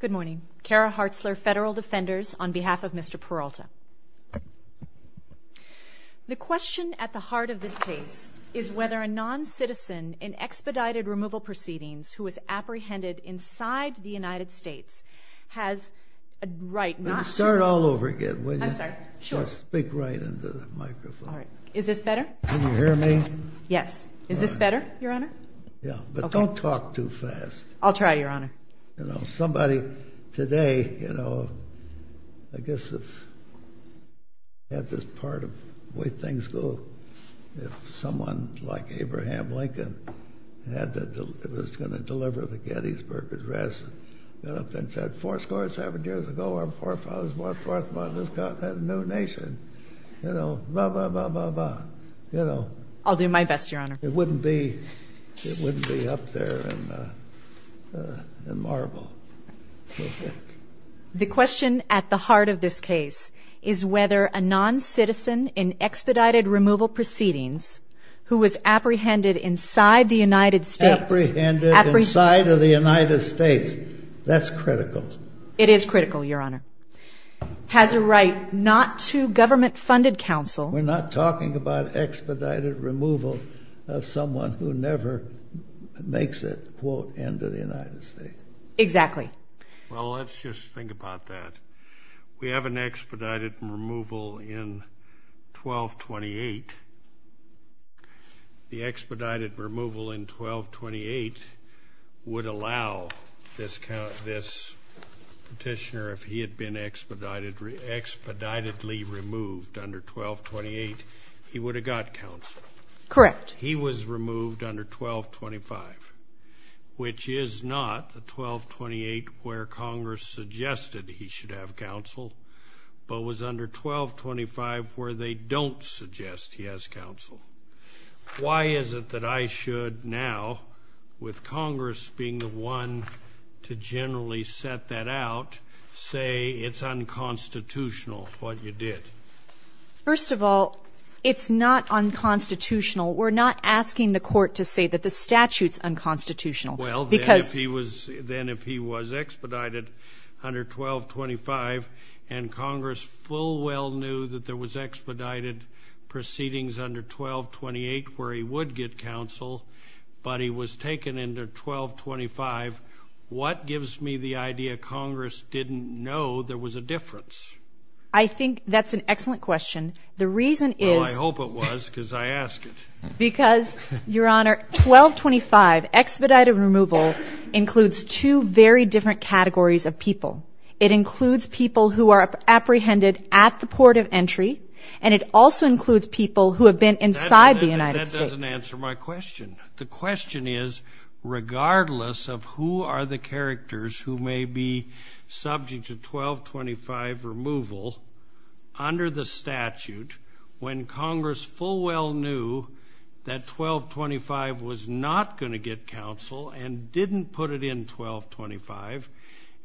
Good morning. Kara Hartzler, Federal Defenders, on behalf of Mr. Peralta. The question at the heart of this case is whether a non-citizen in expedited removal proceedings who is apprehended inside the United States has a right not to... Start all over again, will you? I'm sorry. Sure. Speak right into the microphone. All right. Is this better? Can you hear me? Yes. Is this better, Your Honor? Yeah, but don't talk too fast. I'll try, Your Honor. You know, somebody today, you know, I guess if... had this part of the way things go, if someone like Abraham Lincoln had to... was going to deliver the Gettysburg Address, you know, and said, four score seven years ago, our forefathers went forth and just got that new nation, you know, blah, blah, blah, blah, blah. You know... I'll do my best, Your Honor. It wouldn't be... it wouldn't be up there in marble. The question at the heart of this case is whether a non-citizen in expedited removal proceedings who is apprehended inside the United States... That's critical. It is critical, Your Honor. ...has a right not to government-funded counsel... We're not talking about expedited removal of someone who never makes it, quote, into the United States. Exactly. Well, let's just think about that. We have an expedited removal in 1228. The expedited removal in 1228 would allow this petitioner, if he had been expeditedly removed under 1228, he would have got counsel. Correct. But he was removed under 1225, which is not 1228 where Congress suggested he should have counsel, but was under 1225 where they don't suggest he has counsel. Why is it that I should now, with Congress being the one to generally set that out, say it's unconstitutional what you did? First of all, it's not unconstitutional. We're not asking the court to say that the statute's unconstitutional because... Well, then if he was expedited under 1225, and Congress full well knew that there was expedited proceedings under 1228 where he would get counsel, but he was taken under 1225, what gives me the idea Congress didn't know there was a difference? I think that's an excellent question. The reason is... Well, I hope it was because I asked it. Because, Your Honor, 1225 expedited removal includes two very different categories of people. It includes people who are apprehended at the port of entry, and it also includes people who have been inside the United States. That doesn't answer my question. The question is, regardless of who are the characters who may be subject to 1225 removal under the statute, when Congress full well knew that 1225 was not going to get counsel and didn't put it in 1225,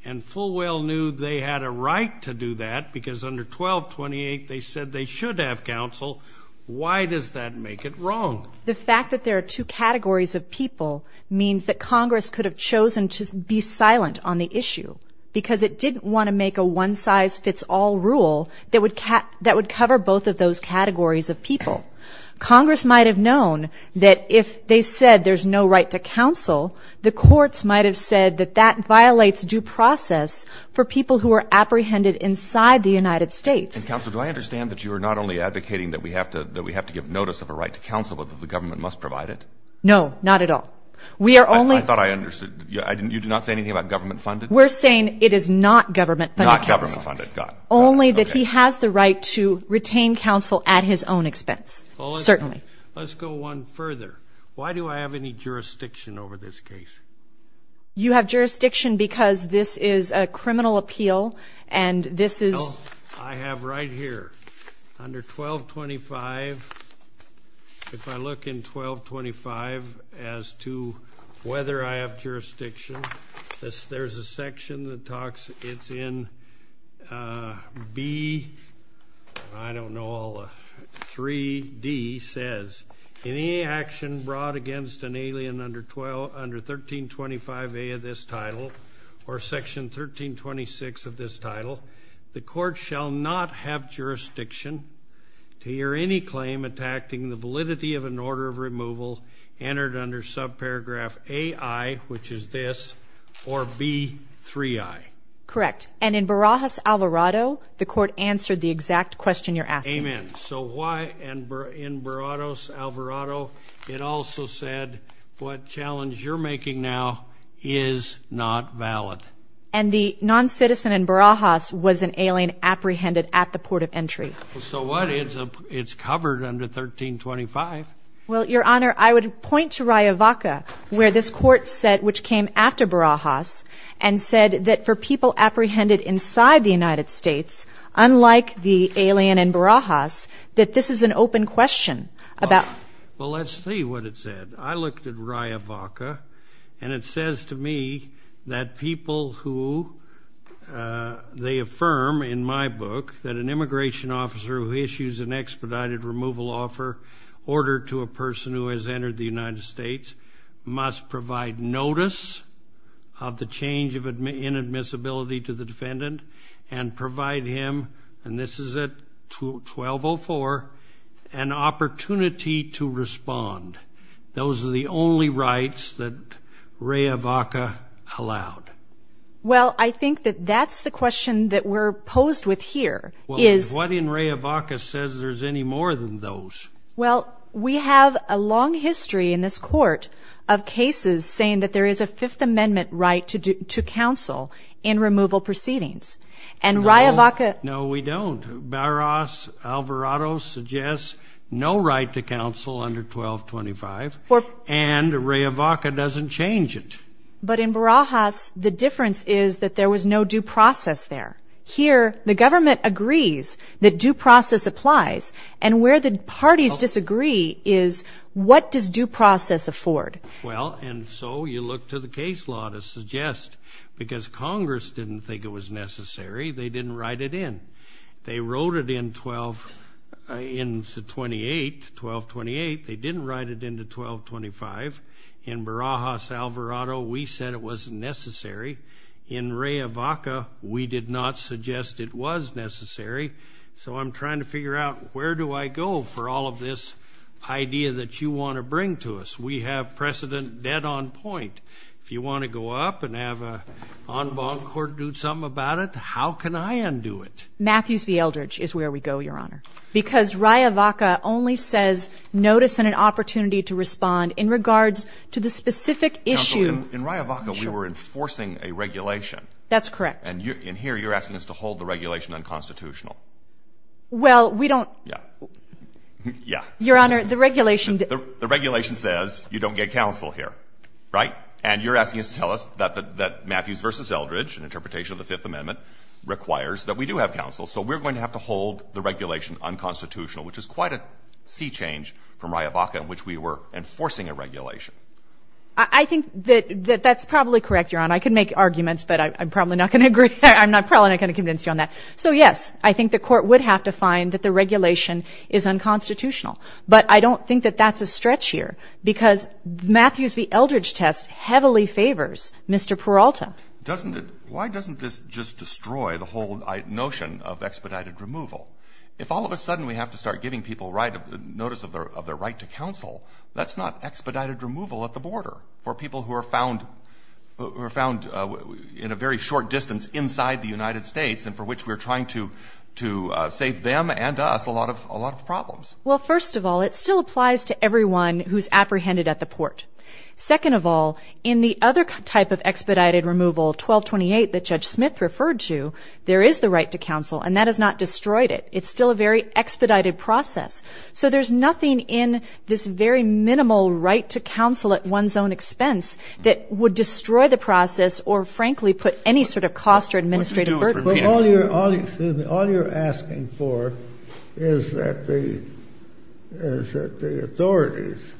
and full well knew they had a right to do that because under 1228 they said they should have counsel, why does that make it wrong? The fact that there are two categories of people means that Congress could have chosen to be silent on the issue because it didn't want to make a one-size-fits-all rule that would cover both of those categories of people. Congress might have known that if they said there's no right to counsel, the courts might have said that that violates due process for people who are apprehended inside the United States. And counsel, do I understand that you are not only advocating that we have to give notice of a right to counsel, but that the government must provide it? No, not at all. We are only ñ I thought I understood. You're not saying anything about government funded? We're saying it is not government funded counsel. Not government funded, got it. Only that he has the right to retain counsel at his own expense, certainly. Let's go one further. Why do I have any jurisdiction over this case? You have jurisdiction because this is a criminal appeal and this is ñ Well, I have right here, under 1225, if I look in 1225 as to whether I have jurisdiction, there's a section that talks ñ it's in B, I don't know, 3D says, in any action brought against an alien under 1325A of this title or section 1326 of this title, the court shall not have jurisdiction to hear any claim attacking the validity of an order of removal entered under subparagraph AI, which is this, or B3I. Correct. And in Barajas, Alvarado, the court answered the exact question you're asking. Amen. So why in Barajas, Alvarado, it also said what challenge you're making now is not valid. And the noncitizen in Barajas was an alien apprehended at the port of entry. So what? It's covered under 1325. Well, Your Honor, I would point to Riavaca, where this court said, which came after Barajas, and said that for people apprehended inside the United States, unlike the alien in Barajas, that this is an open question about ñ Well, let's see what it said. I looked at Riavaca, and it says to me that people who they affirm in my book that an immigration officer who issues an expedited removal offer order to a person who has entered the United States must provide notice of the change in admissibility to the defendant and provide him, and this is at 1204, an opportunity to respond. Those are the only rights that Riavaca allowed. Well, I think that that's the question that we're posed with here. What in Riavaca says there's any more than those? Well, we have a long history in this court of cases saying that there is a Fifth Amendment right to counsel in removal proceedings, and Riavaca ñ No, we don't. Barajas Alvarado suggests no right to counsel under 1225, and Riavaca doesn't change it. But in Barajas, the difference is that there was no due process there. Here, the government agrees that due process applies, and where the parties disagree is, what does due process afford? Well, and so you look to the case law to suggest, because Congress didn't think it was necessary. They didn't write it in. They wrote it in 1228. They didn't write it into 1225. In Barajas Alvarado, we said it wasn't necessary. In Riavaca, we did not suggest it was necessary. So I'm trying to figure out, where do I go for all of this idea that you want to bring to us? We have precedent dead on point. If you want to go up and have an en banc court do something about it, how can I undo it? Matthews v. Eldridge is where we go, Your Honor, because Riavaca only says notice and an opportunity to respond in regards to the specific issue. In Riavaca, we were enforcing a regulation. That's correct. And here, you're asking us to hold the regulation unconstitutional. Well, we don't. Yeah. Yeah. Your Honor, the regulation. The regulation says you don't get counsel here, right? And you're asking us to tell us that Matthews v. Eldridge, an interpretation of the Fifth Amendment, requires that we do have counsel. So we're going to have to hold the regulation unconstitutional, which is quite a sea change from Riavaca in which we were enforcing a regulation. I think that that's probably correct, Your Honor. I could make arguments, but I'm probably not going to agree. I'm probably not going to convince you on that. So, yes, I think the court would have to find that the regulation is unconstitutional. But I don't think that that's a stretch here because Matthews v. Eldridge test heavily favors Mr. Peralta. Doesn't it? Why doesn't this just destroy the whole notion of expedited removal? If all of a sudden we have to start giving people notice of their right to counsel, that's not expedited removal at the border for people who are found in a very short distance inside the United States and for which we're trying to save them and us a lot of problems. Well, first of all, it still applies to everyone who's apprehended at the port. Second of all, in the other type of expedited removal, 1228 that Judge Smith referred to, there is the right to counsel, and that has not destroyed it. It's still a very expedited process. So there's nothing in this very minimal right to counsel at one's own expense that would destroy the process or, frankly, put any sort of cost or administrative burden. But all you're asking for is that the authorities,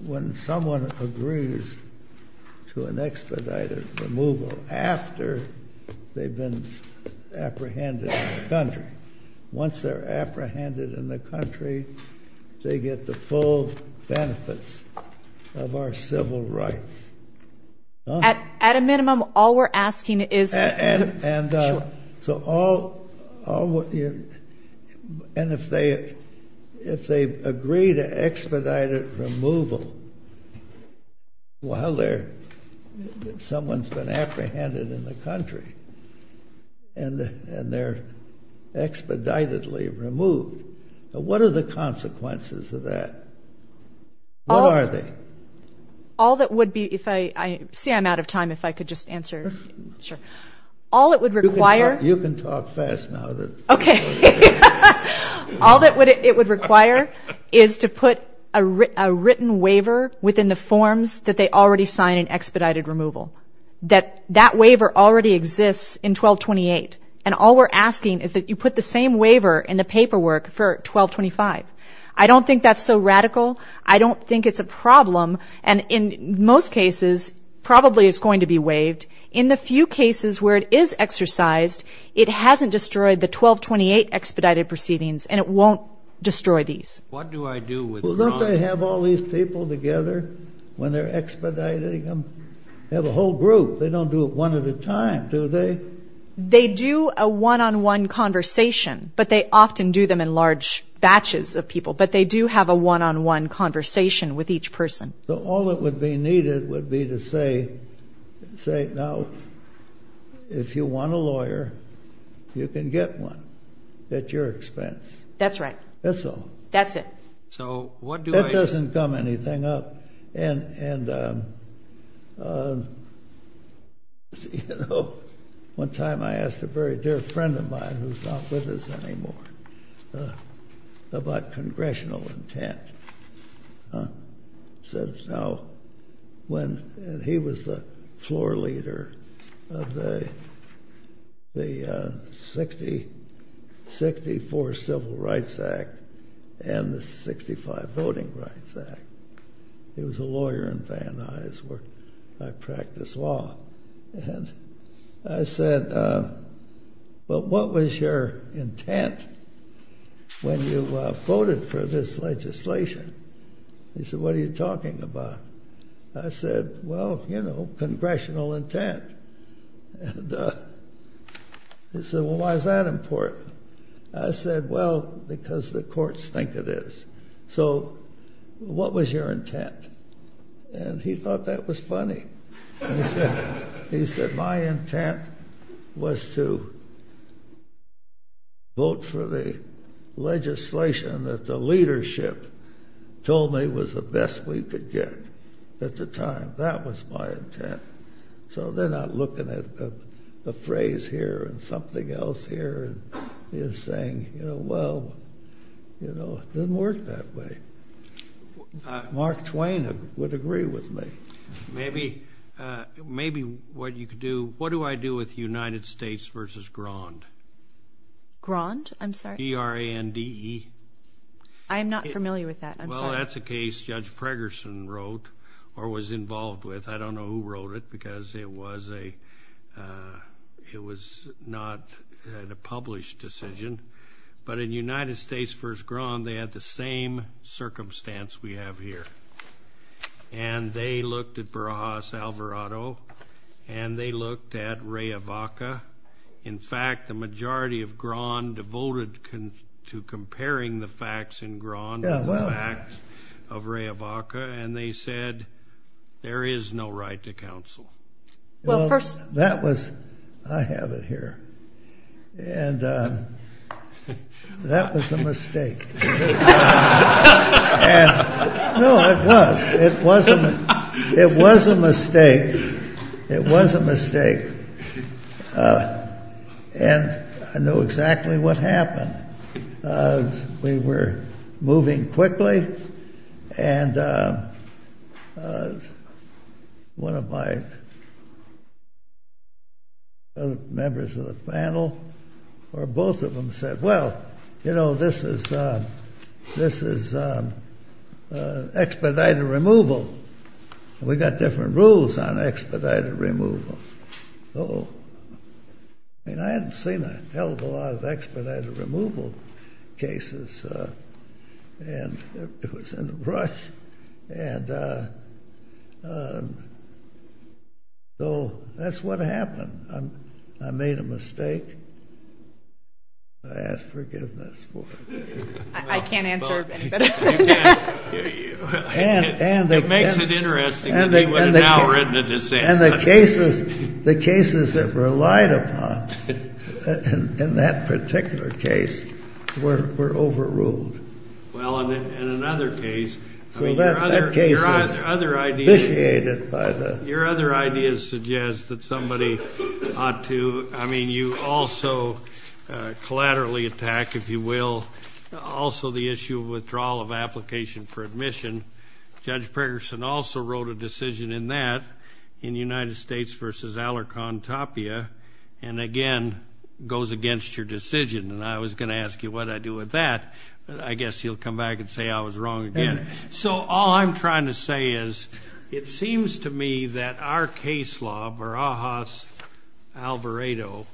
when someone agrees to an expedited After they've been apprehended in the country. Once they're apprehended in the country, they get the full benefits of our civil rights. At a minimum, all we're asking is... And if they agree to expedited removal while someone's been apprehended in the country and they're expeditedly removed, what are the consequences of that? What are they? All that would be if I... See, I'm out of time. If I could just answer. Sure. All it would require... You can talk fast now. Okay. All that it would require is to put a written waiver within the forms that they already sign in expedited removal, that that waiver already exists in 1228. And all we're asking is that you put the same waiver in the paperwork for 1225. I don't think that's so radical. I don't think it's a problem. And in most cases, probably it's going to be waived. In the few cases where it is exercised, it hasn't destroyed the 1228 expedited proceedings, and it won't destroy these. What do I do with... Well, don't they have all these people together when they're expediting them? They have a whole group. They don't do it one at a time, do they? They do a one-on-one conversation, but they often do them in large batches of people. But they do have a one-on-one conversation with each person. So all that would be needed would be to say, now, if you want a lawyer, you can get one at your expense. That's right. That's all. That's it. So what do I... That doesn't gum anything up. And, you know, one time I asked a very dear friend of mine, who's not with us anymore, about congressional intent. I said, now, when... And he was the floor leader of the 64 Civil Rights Act and the 65 Voting Rights Act. He was a lawyer in Van Nuys where I practice law. And I said, well, what was your intent when you voted for this legislation? He said, what are you talking about? I said, well, you know, congressional intent. And he said, well, why is that important? I said, well, because the courts think it is. So what was your intent? And he thought that was funny. He said, my intent was to vote for the legislation that the leadership told me was the best we could get at the time. That was my intent. So they're not looking at the phrase here and something else here and saying, you know, well, you know, it didn't work that way. Mark Twain would agree with me. Maybe what you could do, what do I do with United States v. Grand? Grand, I'm sorry? G-R-A-N-D-E. I am not familiar with that. I'm sorry. Well, that's a case Judge Pregerson wrote or was involved with. I don't know who wrote it because it was not a published decision. But in United States v. Grand, they had the same circumstance we have here. And they looked at Barajas-Alvarado and they looked at Rayavaca. In fact, the majority of Grand devoted to comparing the facts in Grand to the facts of Rayavaca. And they said there is no right to counsel. Well, that was, I have it here. And that was a mistake. No, it was. It was a mistake. It was a mistake. And I know exactly what happened. We were moving quickly. And one of my members of the panel or both of them said, well, you know, this is expedited removal. We got different rules on expedited removal. Uh-oh. I mean, I haven't seen a hell of a lot of expedited removal cases. And it was in a rush. And so that's what happened. I made a mistake. I ask forgiveness for it. I can't answer any better. It makes it interesting that they would have now written a dissent. And the cases that were relied upon in that particular case were overruled. Well, in another case, I mean, your other ideas suggest that somebody ought to, I mean, you also collaterally attack, if you will, also the issue of withdrawal of application for admission. Judge Perkerson also wrote a decision in that, in United States v. Alarcon Tapia. And again, goes against your decision. And I was going to ask you what I do with that. But I guess you'll come back and say I was wrong again. So all I'm trying to say is it seems to me that our case law, Barajas-Alvarado,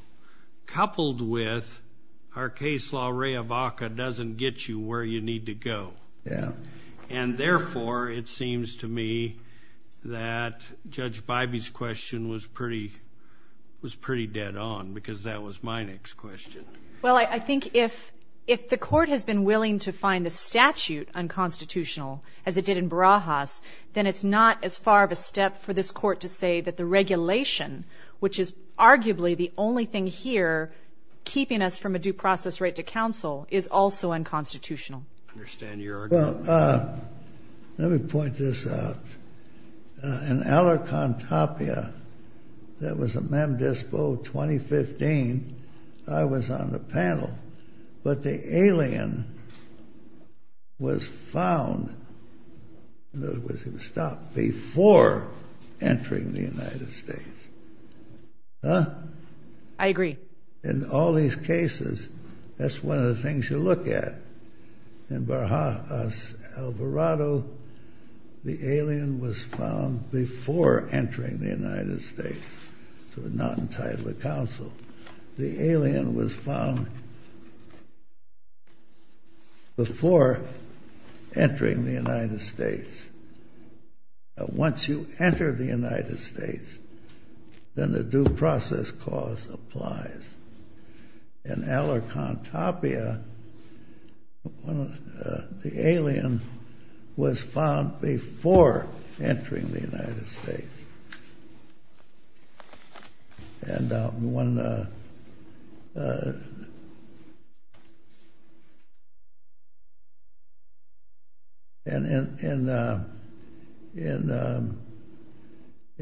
coupled with our case law, Rehabaca, doesn't get you where you need to go. And therefore, it seems to me that Judge Bybee's question was pretty dead on, because that was my next question. Well, I think if the court has been willing to find the statute unconstitutional, as it did in Barajas, then it's not as far of a step for this court to say that the regulation, which is arguably the only thing here keeping us from a due process right to counsel, is also unconstitutional. I understand your argument. Well, let me point this out. In Alarcon Tapia, there was a mem dispo 2015. I was on the panel. But the alien was found, in other words, he was stopped before entering the United States. Huh? I agree. In all these cases, that's one of the things you look at. In Barajas-Alvarado, the alien was found before entering the United States, so not entitled to counsel. The alien was found before entering the United States. Once you enter the United States, then the due process clause applies. In Alarcon Tapia, the alien was found before entering the United States. And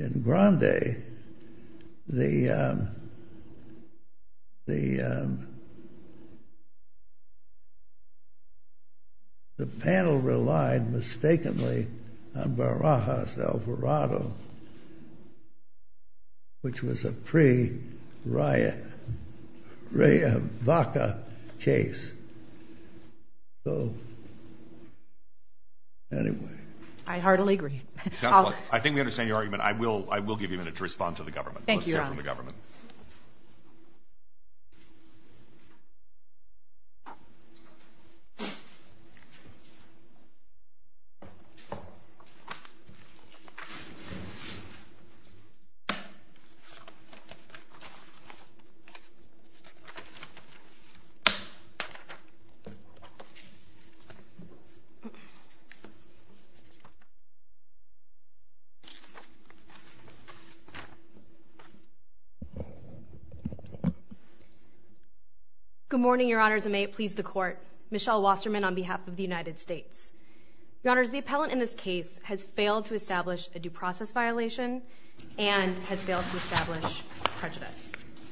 in Grande, the panel relied mistakenly on Barajas-Alvarado. Which was a pre-Raya-Vaca case. So, anyway. I heartily agree. Counselor, I think we understand your argument. I will give you a minute to respond to the government. Thank you, Your Honor. Let's hear from the government. Good morning, Your Honors. And may it please the Court. Michelle Wasserman on behalf of the United States. Your Honors, the appellant in this case has failed to establish a due process violation. And has failed to establish prejudice.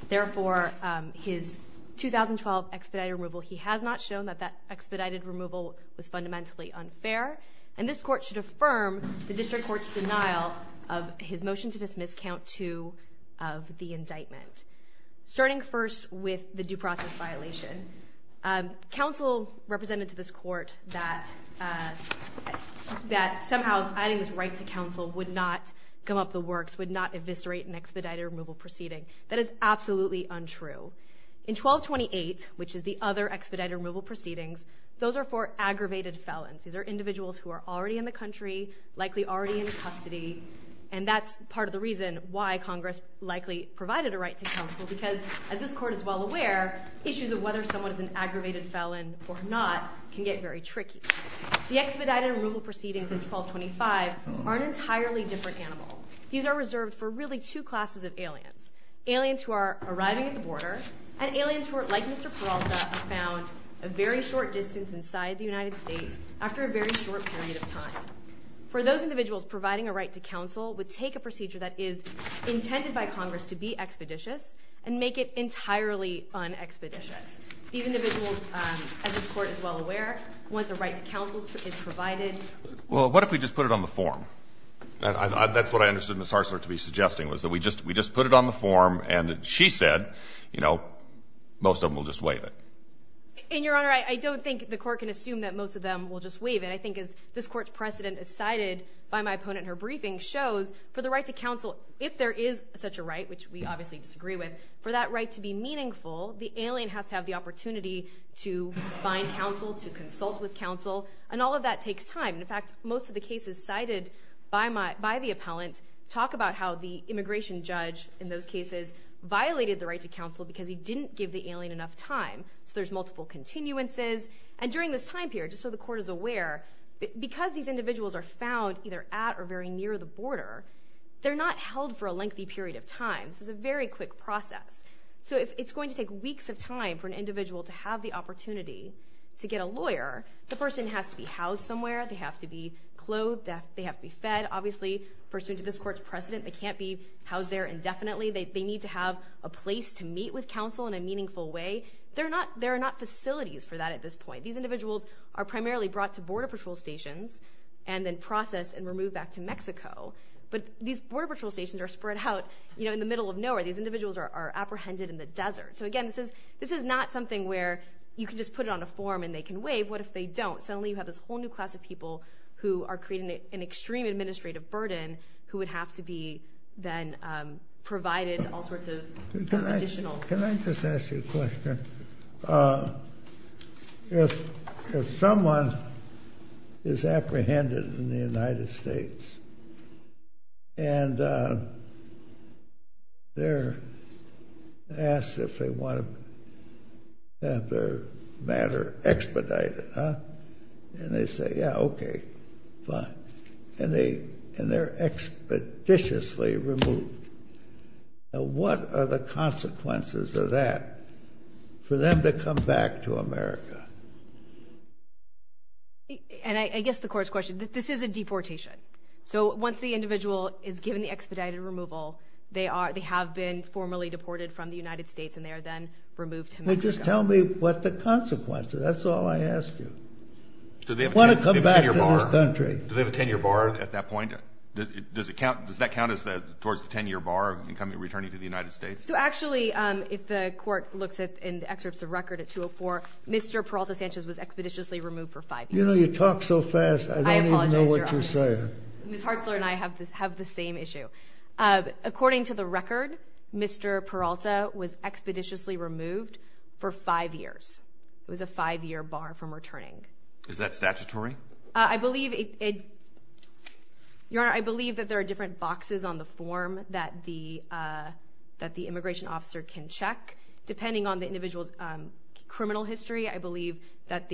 Therefore, his 2012 expedited removal, he has not shown that that expedited removal was fundamentally unfair. And this Court should affirm the District Court's denial of his motion to dismiss Count 2 of the indictment. Starting first with the due process violation. Counsel represented to this Court that somehow adding this right to counsel would not come up the works. Would not eviscerate an expedited removal proceeding. That is absolutely untrue. In 1228, which is the other expedited removal proceedings. Those are for aggravated felons. These are individuals who are already in the country. Likely already in custody. Because as this Court is well aware, issues of whether someone is an aggravated felon or not can get very tricky. The expedited removal proceedings in 1225 are an entirely different animal. These are reserved for really two classes of aliens. Aliens who are arriving at the border. And aliens who are like Mr. Peralta are found a very short distance inside the United States. After a very short period of time. For those individuals, providing a right to counsel would take a procedure that is intended by Congress to be expeditious. And make it entirely un-expeditious. These individuals, as this Court is well aware, once a right to counsel is provided. Well, what if we just put it on the form? That's what I understood Ms. Harsler to be suggesting. Was that we just put it on the form and she said, you know, most of them will just waive it. And, Your Honor, I don't think the Court can assume that most of them will just waive it. I think as this Court's precedent as cited by my opponent in her briefing shows. For the right to counsel, if there is such a right, which we obviously disagree with. For that right to be meaningful, the alien has to have the opportunity to find counsel. To consult with counsel. And all of that takes time. In fact, most of the cases cited by the appellant talk about how the immigration judge in those cases violated the right to counsel. Because he didn't give the alien enough time. So there's multiple continuances. And during this time period, just so the Court is aware, because these individuals are found either at or very near the border, they're not held for a lengthy period of time. This is a very quick process. So it's going to take weeks of time for an individual to have the opportunity to get a lawyer. The person has to be housed somewhere. They have to be clothed. They have to be fed. Obviously, pursuant to this Court's precedent, they can't be housed there indefinitely. They need to have a place to meet with counsel in a meaningful way. There are not facilities for that at this point. These individuals are primarily brought to border patrol stations and then processed and removed back to Mexico. But these border patrol stations are spread out in the middle of nowhere. These individuals are apprehended in the desert. So again, this is not something where you can just put it on a form and they can waive. What if they don't? Suddenly you have this whole new class of people who are creating an extreme administrative burden who would have to be then provided all sorts of additional... If someone is apprehended in the United States and they're asked if they want to have their matter expedited, and they say, yeah, okay, fine, and they're expeditiously removed, what are the consequences of that for them to come back to America? And I guess the Court's question, this is a deportation. So once the individual is given the expedited removal, they have been formally deported from the United States, and they are then removed to Mexico. Well, just tell me what the consequences. That's all I ask you. Do they have a 10-year bar at that point? Does that count as towards the 10-year bar of returning to the United States? So actually, if the Court looks in the excerpts of record at 204, Mr. Peralta Sanchez was expeditiously removed for five years. You talk so fast, I don't even know what you're saying. Ms. Hartzler and I have the same issue. According to the record, Mr. Peralta was expeditiously removed for five years. It was a five-year bar from returning. Is that statutory? Your Honor, I believe that there are different boxes on the form that the immigration officer can check. Depending on the individual's criminal history, I believe that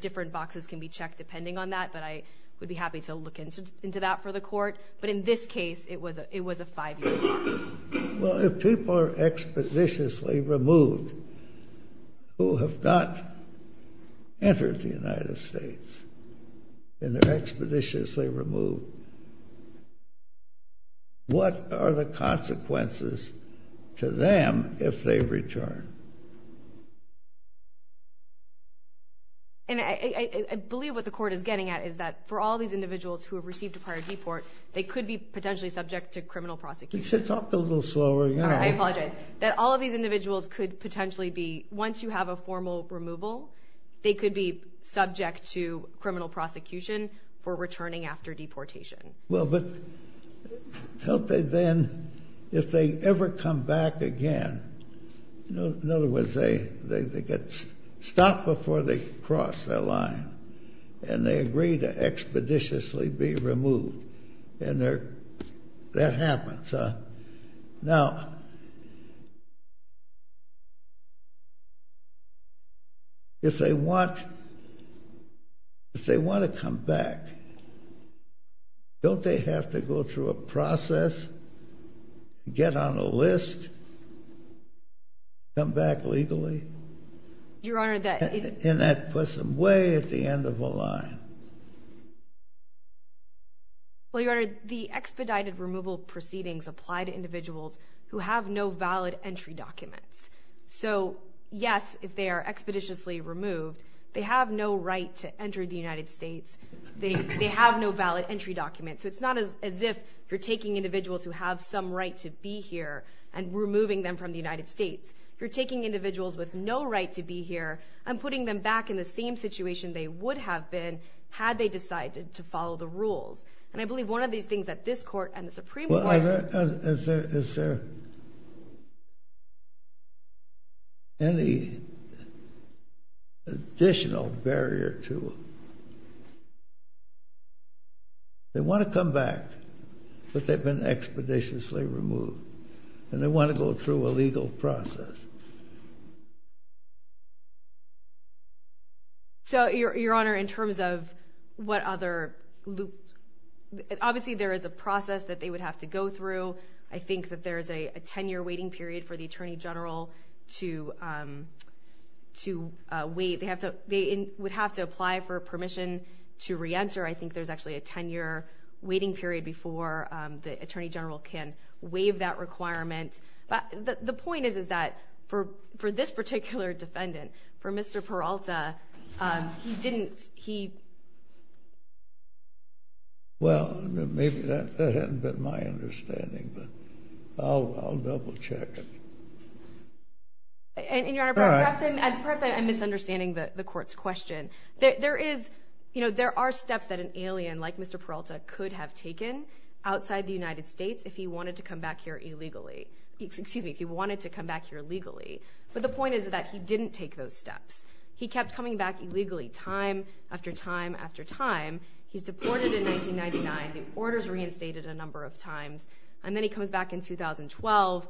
different boxes can be checked depending on that, but I would be happy to look into that for the Court. But in this case, it was a five-year bar. Well, if people are expeditiously removed who have not entered the United States, and they're expeditiously removed, what are the consequences to them if they return? And I believe what the Court is getting at is that for all these individuals who have received a prior deport, they could be potentially subject to criminal prosecution. You should talk a little slower, Your Honor. All right, I apologize. That all of these individuals could potentially be, once you have a formal removal, they could be subject to criminal prosecution for returning after deportation. Well, but if they ever come back again, in other words, they get stopped before they cross their line, and they agree to expeditiously be removed, and that happens. Now, if they want to come back, don't they have to go through a process, get on a list, come back legally? Your Honor, that is... And that puts them way at the end of the line. Well, Your Honor, the expedited removal proceedings apply to individuals who have no valid entry documents. So, yes, if they are expeditiously removed, they have no right to enter the United States. They have no valid entry documents. So it's not as if you're taking individuals who have some right to be here and removing them from the United States. You're taking individuals with no right to be here and putting them back in the same situation they would have been had they decided to follow the rules. And I believe one of these things that this Court and the Supreme Court... Well, is there any additional barrier to it? They want to come back, but they've been expeditiously removed, and they want to go through a legal process. So, Your Honor, in terms of what other loop... Obviously, there is a process that they would have to go through. I think that there is a 10-year waiting period for the Attorney General to wait. They would have to apply for permission to reenter. I think there's actually a 10-year waiting period before the Attorney General can waive that requirement. The point is that for this particular defendant, for Mr. Peralta, he didn't... Well, maybe that hadn't been my understanding, but I'll double-check it. And, Your Honor, perhaps I'm misunderstanding the Court's question. There are steps that an alien like Mr. Peralta could have taken outside the United States if he wanted to come back here illegally. But the point is that he didn't take those steps. He kept coming back illegally time after time after time. He's deported in 1999. The order's reinstated a number of times. And then he comes back in 2012.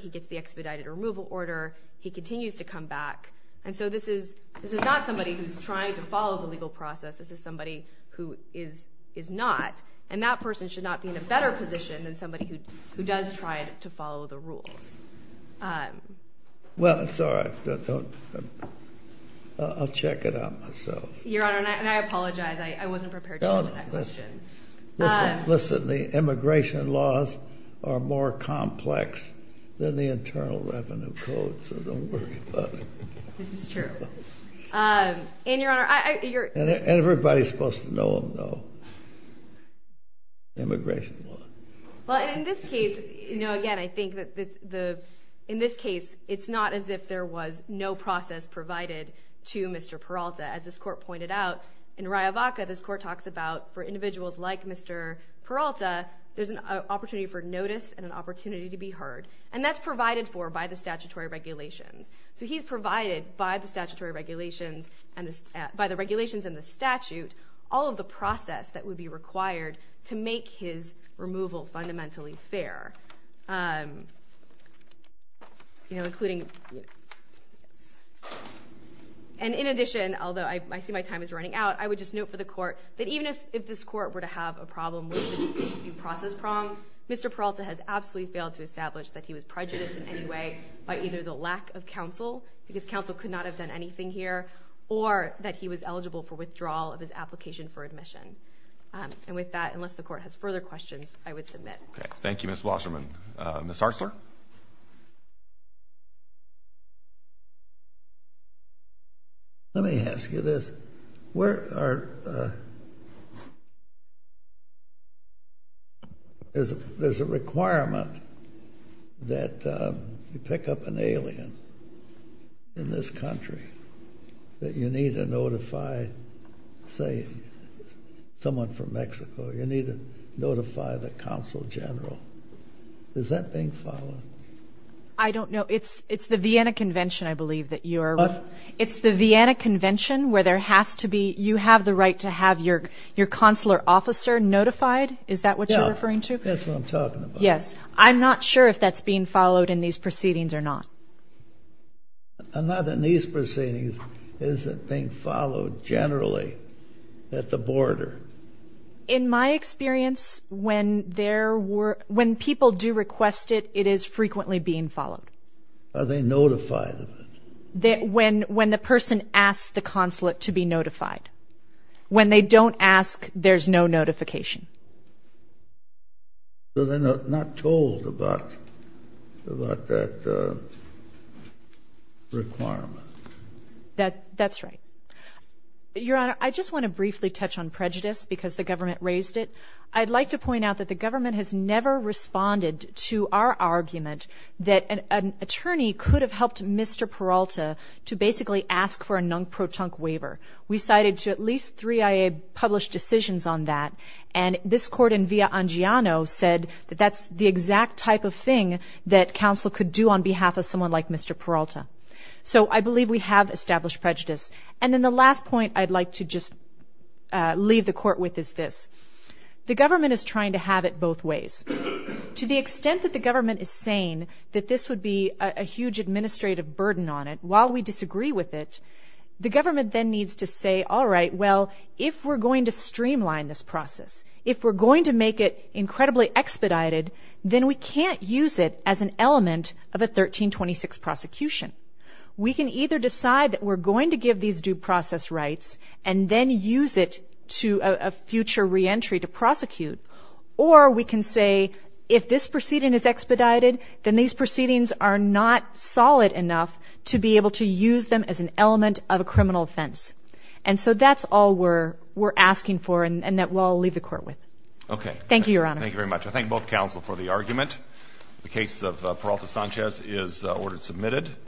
He gets the expedited removal order. He continues to come back. And so this is not somebody who's trying to follow the legal process. This is somebody who is not. And that person should not be in a better position than somebody who does try to follow the rules. Well, it's all right. I'll check it out myself. Your Honor, and I apologize. I wasn't prepared to answer that question. Listen, the immigration laws are more complex than the Internal Revenue Code, so don't worry about it. This is true. And, Your Honor, I... Everybody's supposed to know them, though. Immigration law. Well, in this case, you know, again, I think that the... In this case, it's not as if there was no process provided to Mr. Peralta. As this Court pointed out, in Rayo Vaca, this Court talks about for individuals like Mr. Peralta, there's an opportunity for notice and an opportunity to be heard. And that's provided for by the statutory regulations. So he's provided by the statutory regulations, by the regulations and the statute, all of the process that would be required to make his removal fundamentally fair. You know, including... And in addition, although I see my time is running out, I would just note for the Court that even if this Court were to have a problem with the due process prong, Mr. Peralta has absolutely failed to establish that he was prejudiced in any way by either the lack of counsel, because counsel could not have done anything here, or that he was eligible for withdrawal of his application for admission. And with that, unless the Court has further questions, I would submit. Okay. Thank you, Ms. Wasserman. Ms. Hartzler? Let me ask you this. Where are... There's a requirement that you pick up an alien in this country that you need to notify, say, someone from Mexico. You need to notify the Consul General. Is that being followed? I don't know. It's the Vienna Convention, I believe, that you're... What? It's the Vienna Convention where there has to be... You have the right to have your consular officer notified. Is that what you're referring to? Yeah. That's what I'm talking about. Yes. I'm not sure if that's being followed in these proceedings or not. Not in these proceedings. Is it being followed generally at the border? In my experience, when people do request it, it is frequently being followed. Are they notified of it? When the person asks the consulate to be notified. When they don't ask, there's no notification. So they're not told about that requirement. That's right. Your Honor, I just want to briefly touch on prejudice because the government raised it. I'd like to point out that the government has never responded to our argument that an attorney could have helped Mr. Peralta to basically ask for a non-protonc waiver. We cited at least three IA published decisions on that. And this court in Via Angiano said that that's the exact type of thing that counsel could do on behalf of someone like Mr. Peralta. So I believe we have established prejudice. And then the last point I'd like to just leave the court with is this. The government is trying to have it both ways. To the extent that the government is saying that this would be a huge administrative burden on it while we disagree with it, the government then needs to say, all right, well, if we're going to streamline this process, if we're going to make it incredibly expedited, then we can't use it as an element of a 1326 prosecution. We can either decide that we're going to give these due process rights and then use it to a future reentry to prosecute. Or we can say if this proceeding is expedited, then these proceedings are not solid enough to be able to use them as an element of a criminal offense. And so that's all we're asking for and that we'll leave the court with. Okay. Thank you, Your Honor. Thank you very much. I thank both counsel for the argument. The case of Peralta Sanchez is ordered submitted.